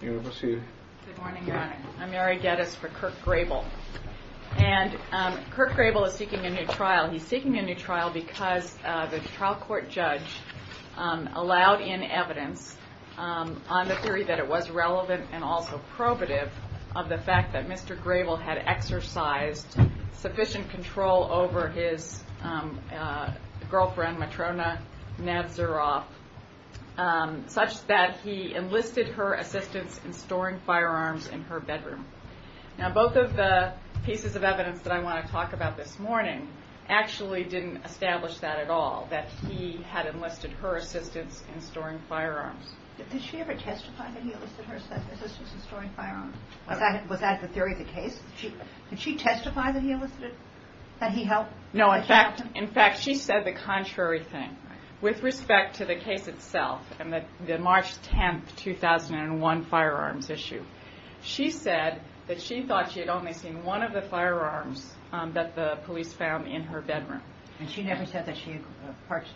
Good morning, Your Honor. I'm Mary Geddes for Kirk Grable, and Kirk Grable is seeking a new trial. He's seeking a new trial because the trial court judge allowed in evidence on the theory that it was relevant and also probative of the fact that Mr. Grable had exercised sufficient control over his girlfriend, Matrona Nazaroff, such that he enlisted her in the trial. He enlisted her assistance in storing firearms in her bedroom. Now, both of the pieces of evidence that I want to talk about this morning actually didn't establish that at all, that he had enlisted her assistance in storing firearms. Did she ever testify that he enlisted her assistance in storing firearms? Was that the theory of the case? Did she testify that he enlisted, that he helped? No. In fact, she said the contrary thing. With respect to the case itself and the March 10, 2001 firearms issue, she said that she thought she had only seen one of the firearms that the police found in her bedroom. And she never said that she had partially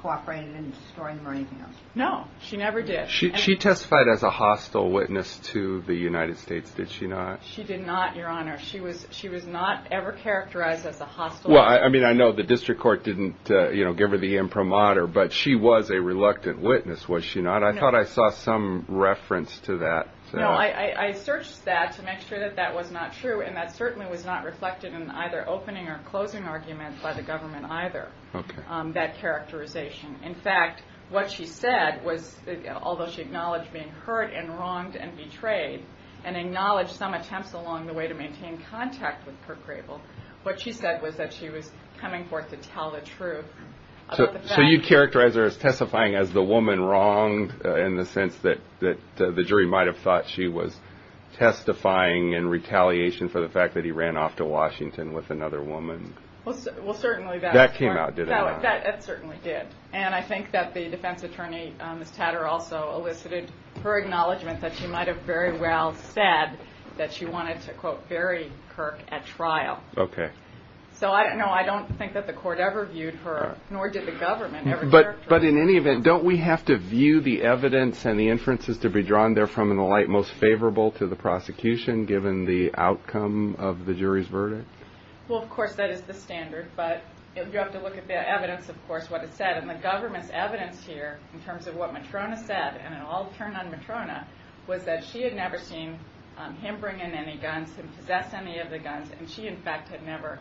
cooperated in storing them or anything else? No, she never did. She testified as a hostile witness to the United States, did she not? She did not, Your Honor. She was not ever characterized as a hostile witness. Well, I mean, I know the district court didn't give her the imprimatur, but she was a reluctant witness, was she not? I thought I saw some reference to that. No, I searched that to make sure that that was not true, and that certainly was not reflected in either opening or closing arguments by the government either, that characterization. In fact, what she said was, although she acknowledged being hurt and wronged and betrayed, and acknowledged some attempts along the way to maintain contact with Kurt Grable, what she said was that she was coming forth to tell the truth. So you characterize her as testifying as the woman wronged in the sense that the jury might have thought she was testifying in retaliation for the fact that he ran off to Washington with another woman? Well, certainly that's true. That came out, did it not? That certainly did. And I think that the defense attorney, Ms. Tatter, also elicited her acknowledgement that she might have very well said that she wanted to, quote, bury Kurt at trial. Okay. So, no, I don't think that the court ever viewed her, nor did the government. But in any event, don't we have to view the evidence and the inferences to be drawn therefrom in the light most favorable to the prosecution, given the outcome of the jury's verdict? Well, of course, that is the standard, but you have to look at the evidence, of course, what it said. And the government's evidence here, in terms of what Matrona said, and it all turned on Matrona, was that she had never seen him bring in any guns, him possess any of the guns, and she, in fact, had never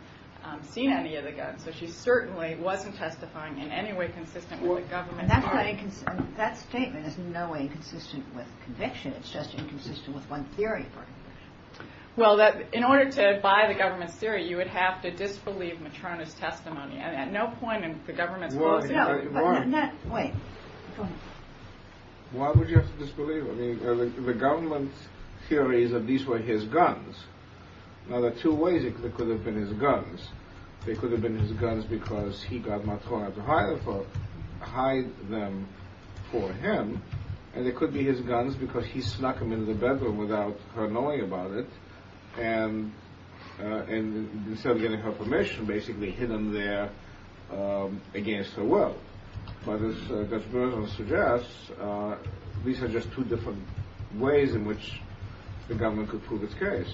seen any of the guns. So she certainly wasn't testifying in any way consistent with the government. And that statement is in no way consistent with conviction. It's just inconsistent with one theory. Well, in order to buy the government's theory, you would have to disbelieve Matrona's testimony. And at no point in the government's policy… No, wait. Go ahead. Why would you have to disbelieve? I mean, the government's theory is that these were his guns. Now, there are two ways it could have been his guns. They could have been his guns because he got Matrona to hide them for him. And they could be his guns because he snuck them into the bedroom without her knowing about it. And instead of getting her permission, basically hid them there against her will. But as Dr. Bernstein suggests, these are just two different ways in which the government could prove its case.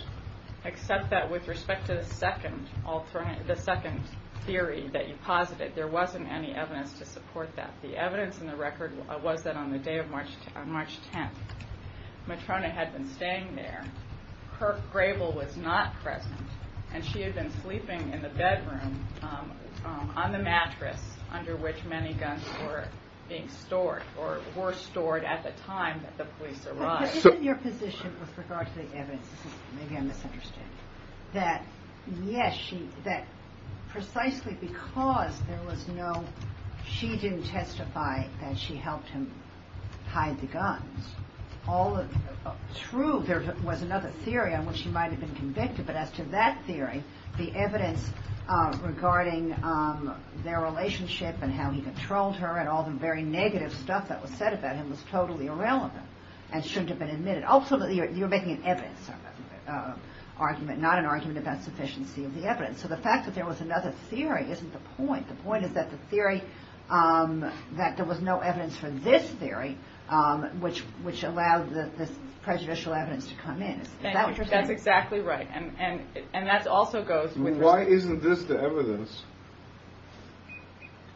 Except that with respect to the second theory that you posited, there wasn't any evidence to support that. The evidence in the record was that on the day of March 10th, Matrona had been staying there. Her gravel was not present. And she had been sleeping in the bedroom on the mattress under which many guns were being stored, or were stored at the time that the police arrived. But isn't your position with regard to the evidence, maybe I'm misunderstanding, that yes, precisely because she didn't testify that she helped him hide the guns, true, there was another theory on which she might have been convicted. But as to that theory, the evidence regarding their relationship and how he controlled her and all the very negative stuff that was said about him was totally irrelevant and shouldn't have been admitted. Ultimately, you're making an evidence argument, not an argument about sufficiency of the evidence. So the fact that there was another theory isn't the point. The point is that the theory, that there was no evidence for this theory, which allowed this prejudicial evidence to come in. Is that what you're saying? That's exactly right. And that also goes with respect to... Why isn't this the evidence?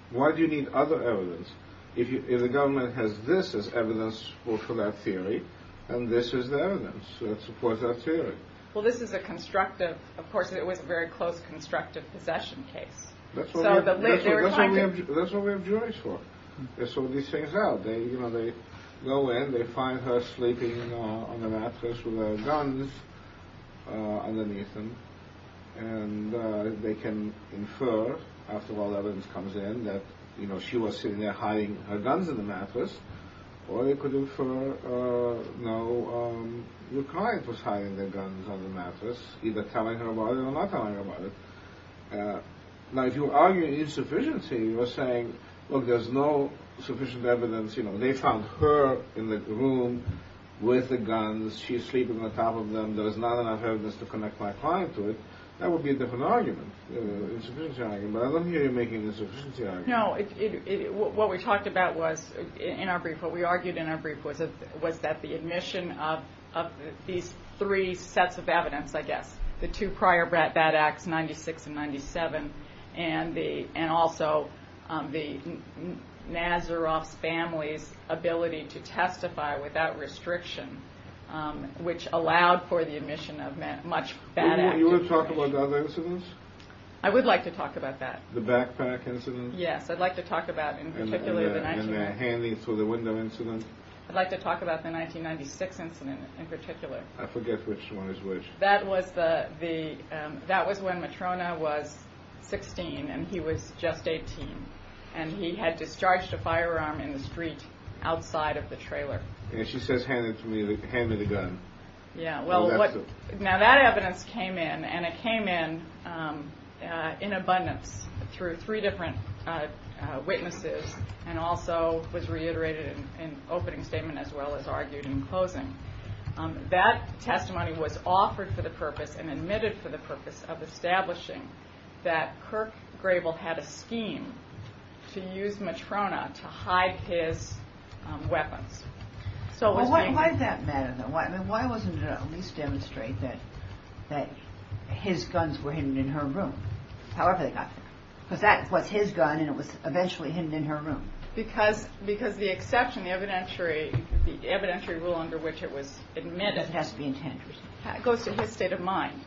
Why do you need other evidence if the government has this as evidence for that theory, and this is the evidence that supports that theory? Well, this is a constructive, of course, it was a very close constructive possession case. That's what we have juries for. They sort these things out. They go in, they find her sleeping on the mattress with her guns underneath them, and they can infer, after all the evidence comes in, that she was sitting there hiding her guns in the mattress, or they could infer, no, your client was hiding their guns on the mattress, either telling her about it or not telling her about it. Now, if you're arguing insufficiency, you're saying, look, there's no sufficient evidence, they found her in the room with the guns, she's sleeping on top of them, there's not enough evidence to connect my client to it, that would be a different argument. Insufficiency argument. But I don't hear you making an insufficiency argument. No, what we talked about was, in our brief, what we argued in our brief, the two prior bad acts, 96 and 97, and also the Nazaroff's family's ability to testify without restriction, which allowed for the admission of much bad action. Do you want to talk about the other incidents? I would like to talk about that. The backpack incident? Yes, I'd like to talk about, in particular, the 1996... And the handing through the window incident? I'd like to talk about the 1996 incident, in particular. I forget which one is which. That was when Matrona was 16 and he was just 18, and he had discharged a firearm in the street outside of the trailer. And she says, hand me the gun. Yeah, well, now that evidence came in, and it came in in abundance through three different witnesses, and also was reiterated in opening statement as well as argued in closing. That testimony was offered for the purpose and admitted for the purpose of establishing that Kirk Grable had a scheme to use Matrona to hide his weapons. Why did that matter, though? Why wasn't it at least demonstrated that his guns were hidden in her room, however they got there? Because that was his gun, and it was eventually hidden in her room. Because the exception, the evidentiary rule under which it was admitted... It has to be intended. ...goes to his state of mind.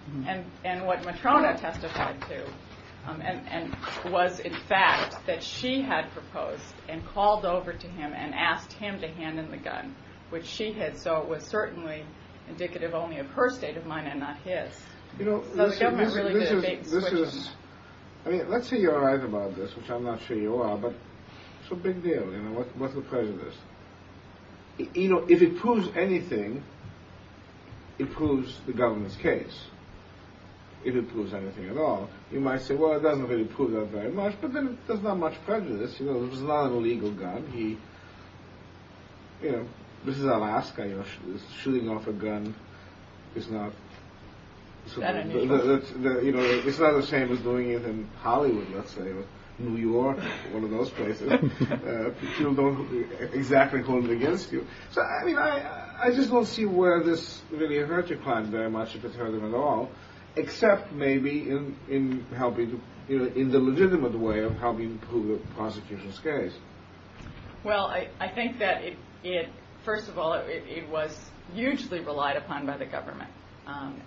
And what Matrona testified to was, in fact, that she had proposed and called over to him and asked him to hand in the gun, which she had, so it was certainly indicative only of her state of mind and not his. You know, this is... Let's say you're right about this, which I'm not sure you are, but it's a big deal, you know, what's the prejudice? You know, if it proves anything, it proves the government's case. If it proves anything at all, you might say, well, it doesn't really prove that very much, but then there's not much prejudice, you know, it's not an illegal gun. This is Alaska, you know, shooting off a gun is not... It's not illegal. It's not the same as doing it in Hollywood, let's say, or New York, or one of those places. People don't exactly hold it against you. So, I mean, I just don't see where this really hurt your client very much, if it hurt them at all, except maybe in helping, you know, in the legitimate way of helping prove a prosecution's case. Well, I think that it, first of all, it was hugely relied upon by the government.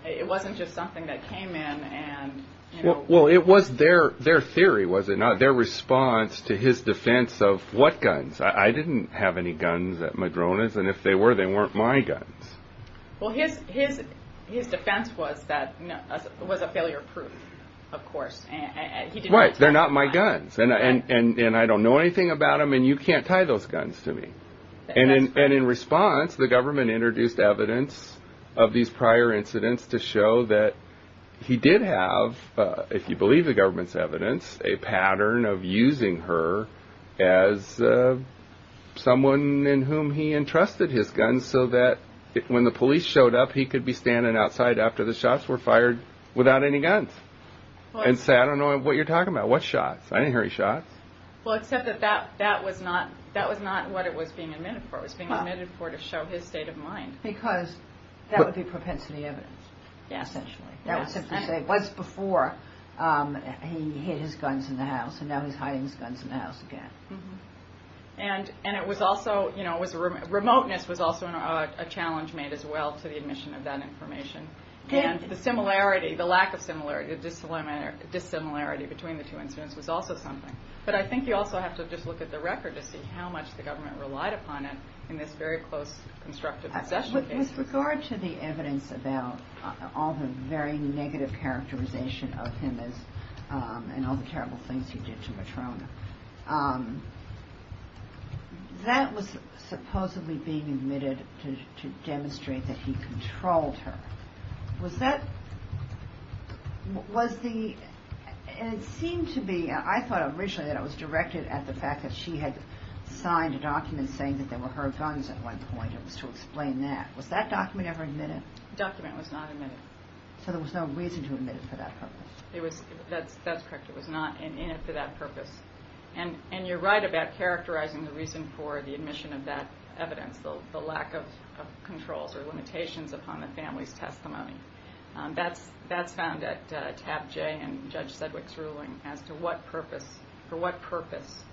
It wasn't just something that came in and, you know... Well, it was their theory, was it not? Their response to his defense of what guns? I didn't have any guns at Madrona's, and if they were, they weren't my guns. Well, his defense was a failure proof, of course. Right, they're not my guns, and I don't know anything about them, and you can't tie those guns to me. And in response, the government introduced evidence of these prior incidents to show that he did have, if you believe the government's evidence, a pattern of using her as someone in whom he entrusted his guns, so that when the police showed up, he could be standing outside after the shots were fired without any guns, and say, I don't know what you're talking about. What shots? I didn't hear any shots. Well, except that that was not what it was being admitted for. It was being admitted for to show his state of mind. Because that would be propensity evidence, essentially. That would simply say, once before, he hid his guns in the house, and now he's hiding his guns in the house again. And it was also, remoteness was also a challenge made as well to the admission of that information. And the similarity, the lack of similarity, the dissimilarity between the two incidents was also something. But I think you also have to just look at the record to see how much the government relied upon it in this very close constructive possession case. With regard to the evidence about all the very negative characterization of him, and all the terrible things he did to Matrona, that was supposedly being admitted to demonstrate that he controlled her. Was that, was the, and it seemed to be, I thought originally that it was directed at the fact that she had signed a document saying that they were her guns at one point. It was to explain that. Was that document ever admitted? The document was not admitted. So there was no reason to admit it for that purpose. It was, that's correct. It was not in it for that purpose. And you're right about characterizing the reason for the admission of that evidence, the lack of controls or limitations upon the family's testimony. That's found at tab J in Judge Sedwick's ruling, as to what purpose, for what purpose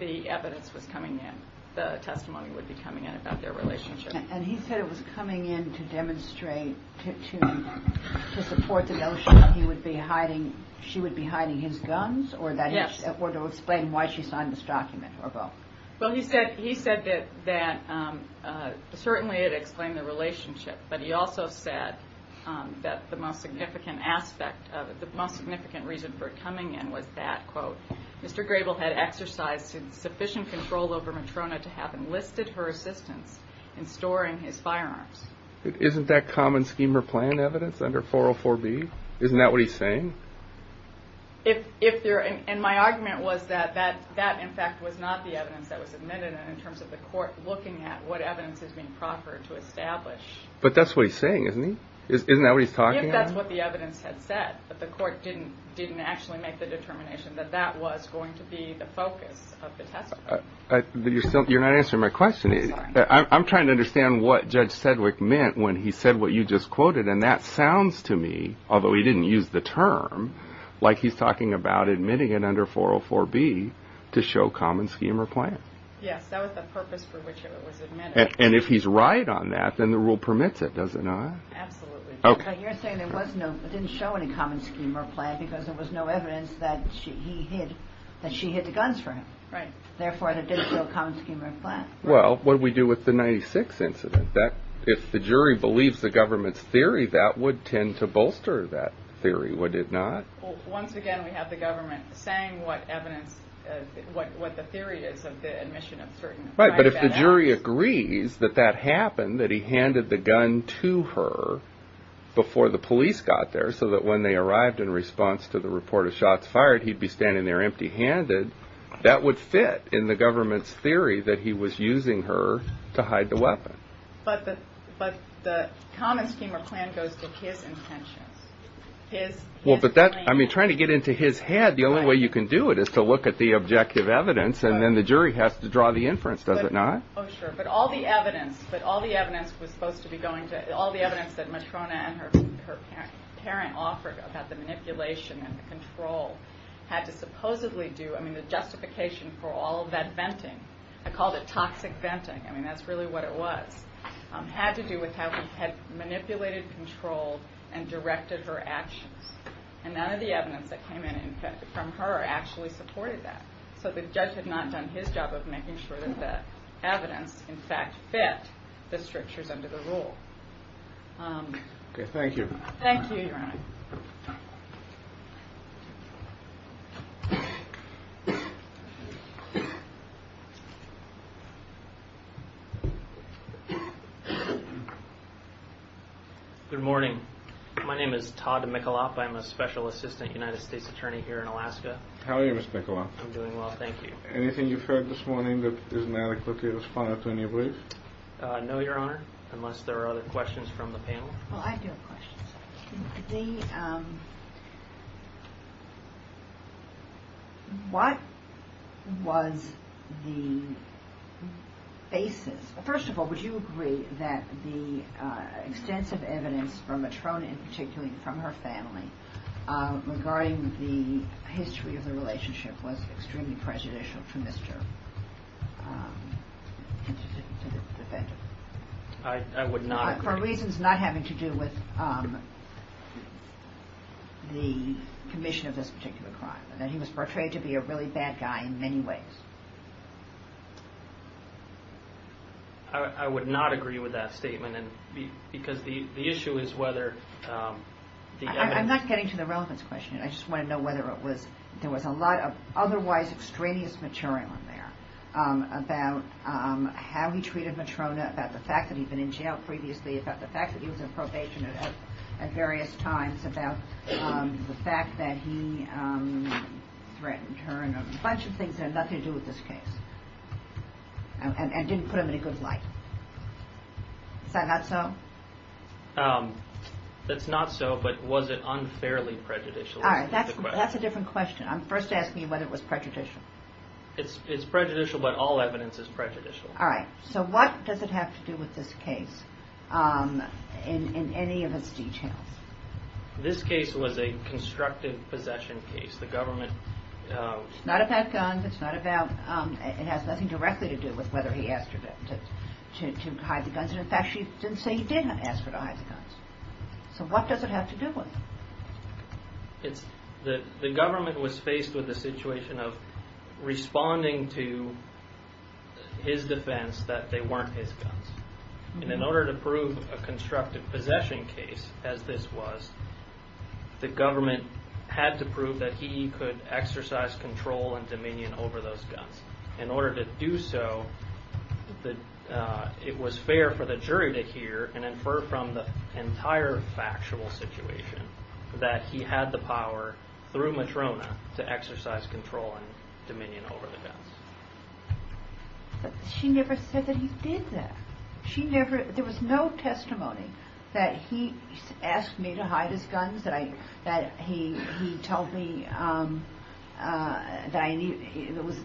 the evidence was coming in, the testimony would be coming in about their relationship. And he said it was coming in to demonstrate, to support the notion that he would be hiding, she would be hiding his guns? Yes. Or to explain why she signed this document? Well, he said that certainly it explained the relationship, but he also said that the most significant aspect of it, the most significant reason for it coming in was that, quote, Mr. Grable had exercised sufficient control over Matrona to have enlisted her assistance in storing his firearms. Isn't that common scheme or plan evidence under 404B? Isn't that what he's saying? And my argument was that that, in fact, was not the evidence that was admitted in terms of the court looking at what evidence is being proffered to establish. But that's what he's saying, isn't he? Isn't that what he's talking about? If that's what the evidence had said, but the court didn't actually make the determination that that was going to be the focus of the testimony. You're not answering my question. I'm trying to understand what Judge Sedgwick meant when he said what you just quoted, and that sounds to me, although he didn't use the term, like he's talking about admitting it under 404B to show common scheme or plan. Yes, that was the purpose for which it was admitted. And if he's right on that, then the rule permits it, does it not? Absolutely. But you're saying it didn't show any common scheme or plan because there was no evidence that she hid the guns from him. Right. Therefore, it didn't show common scheme or plan. Well, what do we do with the 96 incident? If the jury believes the government's theory, that would tend to bolster that theory, would it not? Once again, we have the government saying what evidence, what the theory is of the admission of certain... Right, but if the jury agrees that that happened, that he handed the gun to her before the police got there so that when they arrived in response to the report of shots fired, he'd be standing there empty-handed, that would fit in the government's theory that he was using her to hide the weapon. But the common scheme or plan goes to his intentions. I mean, trying to get into his head, the only way you can do it is to look at the objective evidence, and then the jury has to draw the inference, does it not? Oh, sure. But all the evidence was supposed to be going to... All the evidence that Matrona and her parent offered about the manipulation and the control had to supposedly do... I mean, the justification for all of that venting, I called it toxic venting, I mean, that's really what it was, had to do with how he had manipulated, controlled, and directed her actions. And none of the evidence that came in from her actually supported that. So the judge had not done his job of making sure that the evidence, in fact, fit the strictures under the rule. Okay, thank you. Thank you, Your Honor. Good morning. My name is Todd Michalop. I'm a special assistant United States attorney here in Alaska. How are you, Mr. Michalop? I'm doing well, thank you. Anything you've heard this morning that is inadequate to respond to in your brief? No, Your Honor, unless there are other questions from the panel. Well, I do have questions. What was the basis? First of all, would you agree that the extensive evidence from Matrona, and particularly from her family, regarding the history of the relationship was extremely prejudicial for Mr. I would not agree. For reasons not having to do with the commission of this particular crime, that he was portrayed to be a really bad guy in many ways. I would not agree with that statement, because the issue is whether the evidence... I'm not getting to the relevance question. I just want to know whether there was a lot of otherwise extraneous material in there about how he treated Matrona, about the fact that he'd been in jail previously, about the fact that he was on probation at various times, about the fact that he threatened her, and a bunch of things that had nothing to do with this case, and didn't put him in a good light. Is that not so? That's not so, but was it unfairly prejudicial? All right, that's a different question. First ask me whether it was prejudicial. It's prejudicial, but all evidence is prejudicial. All right, so what does it have to do with this case in any of its details? This case was a constructive possession case. The government... It's not about guns. It has nothing directly to do with whether he asked her to hide the guns. In fact, she didn't say he did ask her to hide the guns. So what does it have to do with? The government was faced with a situation of responding to his defense that they weren't his guns. In order to prove a constructive possession case as this was, the government had to prove that he could exercise control and dominion over those guns. In order to do so, it was fair for the jury to hear and infer from the entire factual situation that he had the power through Matrona to exercise control and dominion over the guns. But she never said that he did that. There was no testimony that he asked me to hide his guns, that he told me there was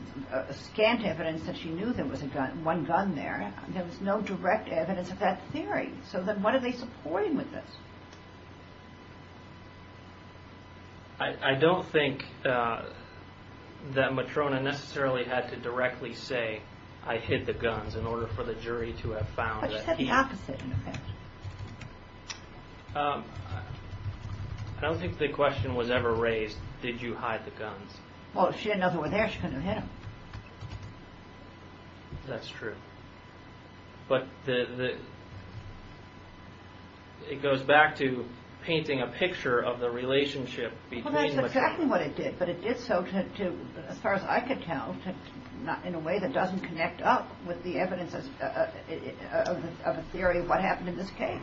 scant evidence that she knew there was one gun there. There was no direct evidence of that theory. So then what are they supporting with this? I don't think that Matrona necessarily had to directly say, I hid the guns in order for the jury to have found that he... But she said the opposite, in effect. I don't think the question was ever raised, did you hide the guns? Well, if she didn't know they were there, she couldn't have hid them. That's true. But it goes back to painting a picture of the relationship between... Well, that's exactly what it did, but it did so, as far as I could tell, in a way that doesn't connect up with the evidence of a theory of what happened in this case,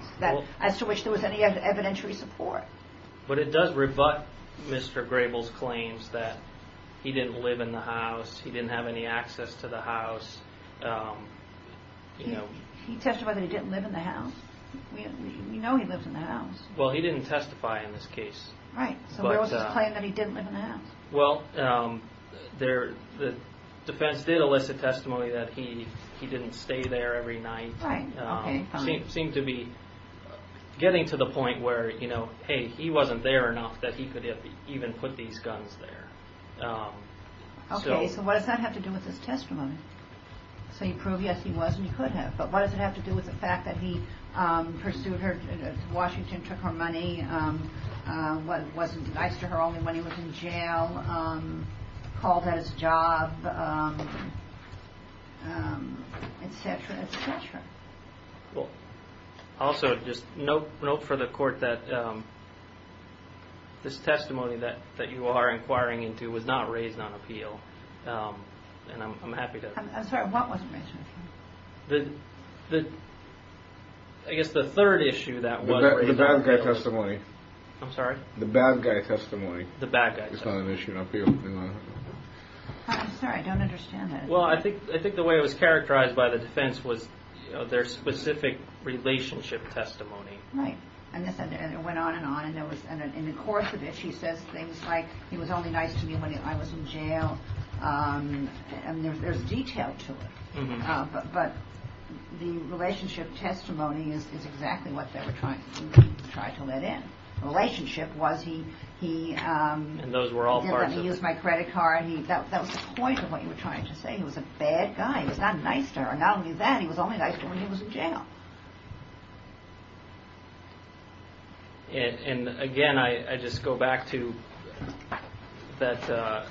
as to which there was any evidentiary support. But it does rebut Mr. Grable's claims that he didn't live in the house, he didn't have any access to the house. He testified that he didn't live in the house. We know he lives in the house. Well, he didn't testify in this case. Well, the defense did elicit testimony that he didn't stay there every night. It seemed to be getting to the point where, hey, he wasn't there enough that he could have even put these guns there. Okay, so what does that have to do with his testimony? So you prove, yes, he was and he could have. But what does it have to do with the fact that he pursued her, Washington took her money, wasn't nice to her only when he was in jail, called that his job, etc., etc.? Well, also, just note for the court that this testimony that you are inquiring into was not raised on appeal, and I'm happy to... I'm sorry, what wasn't raised on appeal? The... I guess the third issue that wasn't raised on appeal... The bad guy testimony. I'm sorry? The bad guy testimony. The bad guy testimony. It's not an issue on appeal. I'm sorry, I don't understand that. Well, I think the way it was characterized by the defense was their specific relationship testimony. Right, and it went on and on, and in the course of it, she says things like, he was only nice to me when I was in jail. And there's detail to it, but the relationship testimony is exactly what they were trying to let in. The relationship was he... And those were all parts of it. He used my credit card. That was the point of what you were trying to say. He was a bad guy. He was not nice to her, and not only that, he was only nice to her when he was in jail. And again, I just go back to that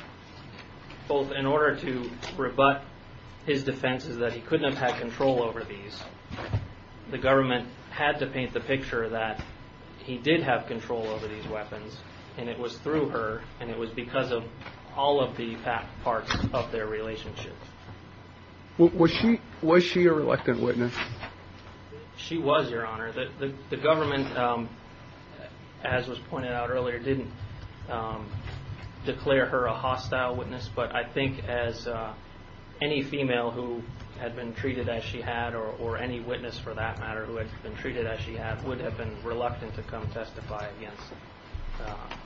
both in order to rebut his defense is that he couldn't have had control over these, the government had to paint the picture that he did have control over these weapons, and it was through her, and it was because of all of the parts of their relationship. Was she a reluctant witness? She was, Your Honor. The government, as was pointed out earlier, didn't declare her a hostile witness, but I think as any female who had been treated as she had or any witness for that matter who had been treated as she had would have been reluctant to come testify against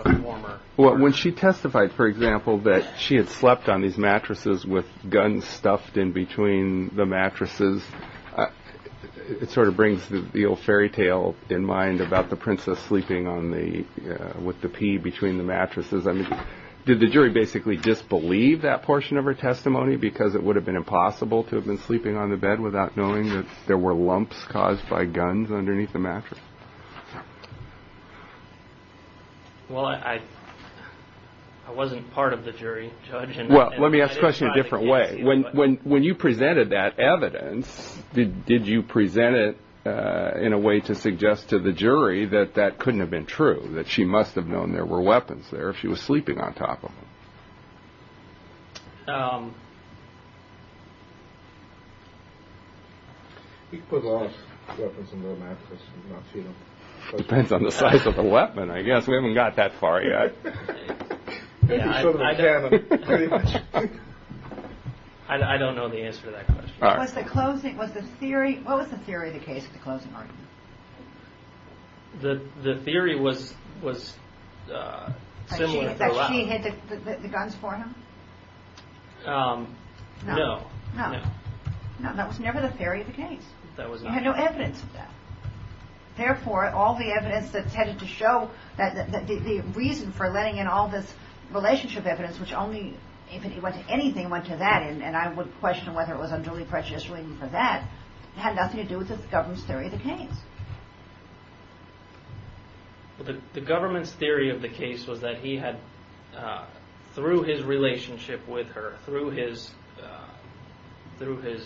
a former... When she testified, for example, that she had slept on these mattresses with guns stuffed in between the mattresses, it sort of brings the old fairy tale in mind about the princess sleeping with the pea between the mattresses. Did the jury basically disbelieve that portion of her testimony because it would have been impossible to have been sleeping on the bed without knowing that there were lumps caused by guns underneath the mattress? Well, I wasn't part of the jury, Judge. Well, let me ask the question a different way. When you presented that evidence, did you present it in a way to suggest to the jury that that couldn't have been true, that she must have known there were weapons there if she was sleeping on top of them? You could put all those weapons under a mattress and not cheat them. Depends on the size of the weapon, I guess. We haven't got that far yet. I don't know the answer to that question. What was the theory of the case at the closing argument? The theory was similar. That she hid the guns for him? No. No, that was never the theory of the case. There was no evidence of that. Therefore, all the evidence that tended to show that the reason for letting in all this relationship evidence, which only, if it went to anything, went to that, and I would question whether it was unduly prejudiced or anything for that, had nothing to do with the government's theory of the case. The government's theory of the case was that he had, through his relationship with her, through his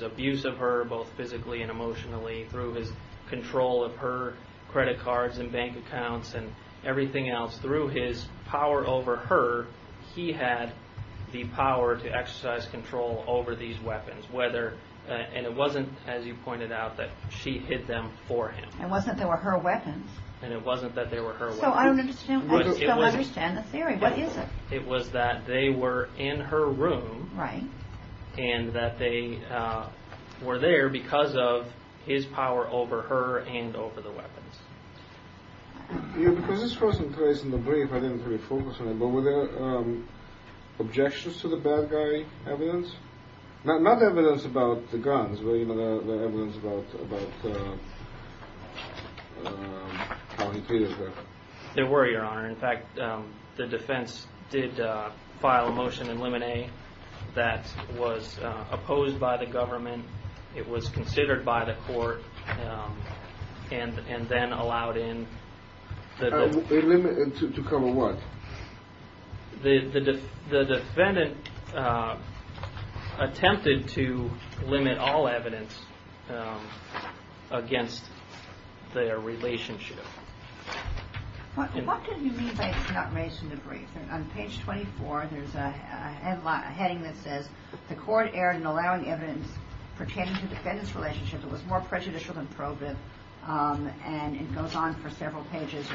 abuse of her both physically and emotionally, through his control of her credit cards and bank accounts and everything else, through his power over her, he had the power to exercise control over these weapons. And it wasn't, as you pointed out, that she hid them for him. It wasn't that they were her weapons. And it wasn't that they were her weapons. So I don't understand the theory. What is it? It was that they were in her room, Was this person's case in the brief, I didn't really focus on it, but were there objections to the bad guy evidence? Not evidence about the guns, but evidence about how he treated her. There were, Your Honor. In fact, the defense did file a motion in limine that was opposed by the government. It was considered by the court. And then allowed in. To cover what? The defendant attempted to limit all evidence against their relationship. What do you mean by it's not raised in the brief? On page 24, there's a heading that says, The court erred in allowing evidence pertaining to the defendant's relationship that was more prejudicial than probative. And it goes on for several pages,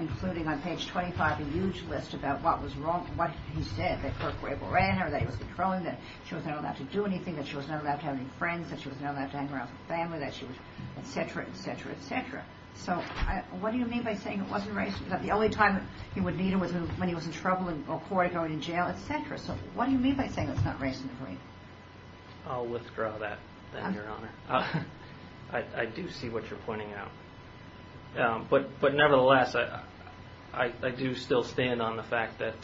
including on page 25, a huge list about what was wrong, what he said, that Kirk were able to ran her, that he was controlling her, that she was not allowed to do anything, that she was not allowed to have any friends, that she was not allowed to hang around with family, that she was, et cetera, et cetera, et cetera. So what do you mean by saying it wasn't raised? That the only time he would need her was when he was in trouble in court, going to jail, et cetera. So what do you mean by saying it's not raised in the brief? I'll withdraw that, Your Honor. I do see what you're pointing out. But nevertheless, I do still stand on the fact that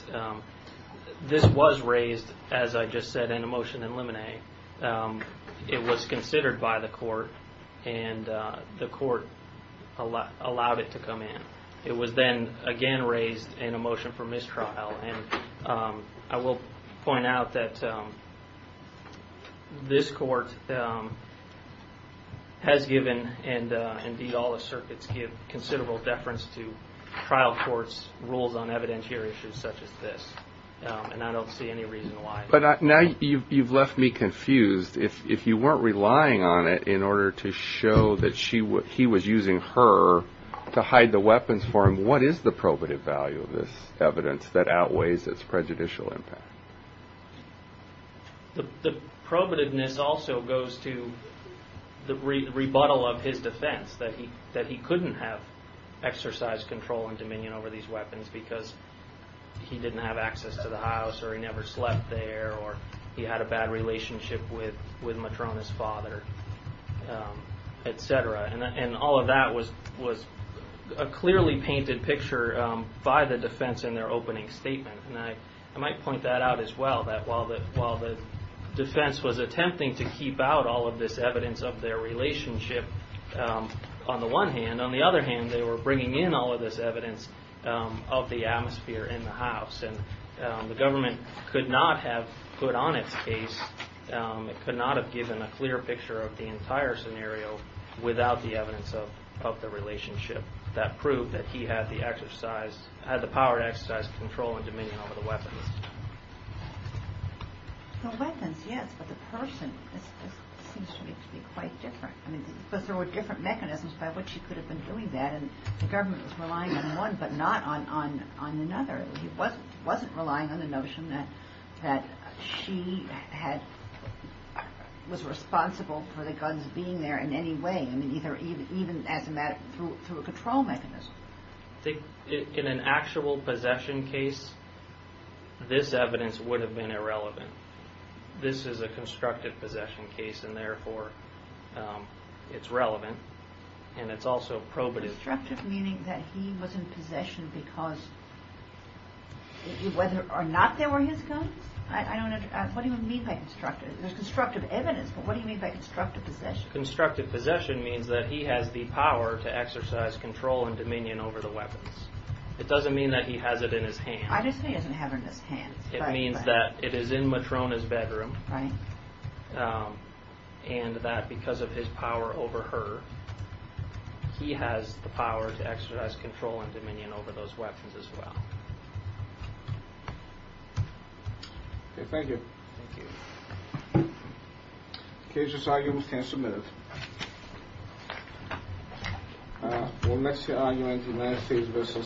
this was raised, as I just said, in a motion in limine. It was considered by the court, and the court allowed it to come in. It was then again raised in a motion for mistrial. And I will point out that this court has given, and indeed all the circuits give considerable deference to trial courts' rules on evidentiary issues such as this. And I don't see any reason why. But now you've left me confused. If you weren't relying on it in order to show that he was using her to hide the weapons for him, what is the probative value of this evidence that outweighs its prejudicial impact? The probativeness also goes to the rebuttal of his defense, that he couldn't have exercise control and dominion over these weapons because he didn't have access to the house or he never slept there or he had a bad relationship with Matrona's father, et cetera. And all of that was a clearly painted picture by the defense in their opening statement. And I might point that out as well, that while the defense was attempting to keep out all of this evidence of their relationship on the one hand, on the other hand they were bringing in all of this evidence of the atmosphere in the house. And the government could not have put on its case, could not have given a clear picture of the entire scenario without the evidence of the relationship that proved that he had the exercise, had the power to exercise control and dominion over the weapons. The weapons, yes, but the person, this seems to me to be quite different. Because there were different mechanisms by which he could have been doing that and the government was relying on one but not on another. He wasn't relying on the notion that she was responsible for the guns being there in any way, even through a control mechanism. In an actual possession case, this evidence would have been irrelevant. This is a constructive possession case and therefore it's relevant and it's also probative. Constructive meaning that he was in possession because, whether or not there were his guns? I don't understand, what do you mean by constructive? There's constructive evidence but what do you mean by constructive possession? Constructive possession means that he has the power to exercise control and dominion over the weapons. It doesn't mean that he has it in his hands. I just think he doesn't have it in his hands. It means that it is in Matrona's bedroom and that because of his power over her he has the power to exercise control and dominion over those weapons as well. Okay, thank you. Thank you. The case is argued and submitted.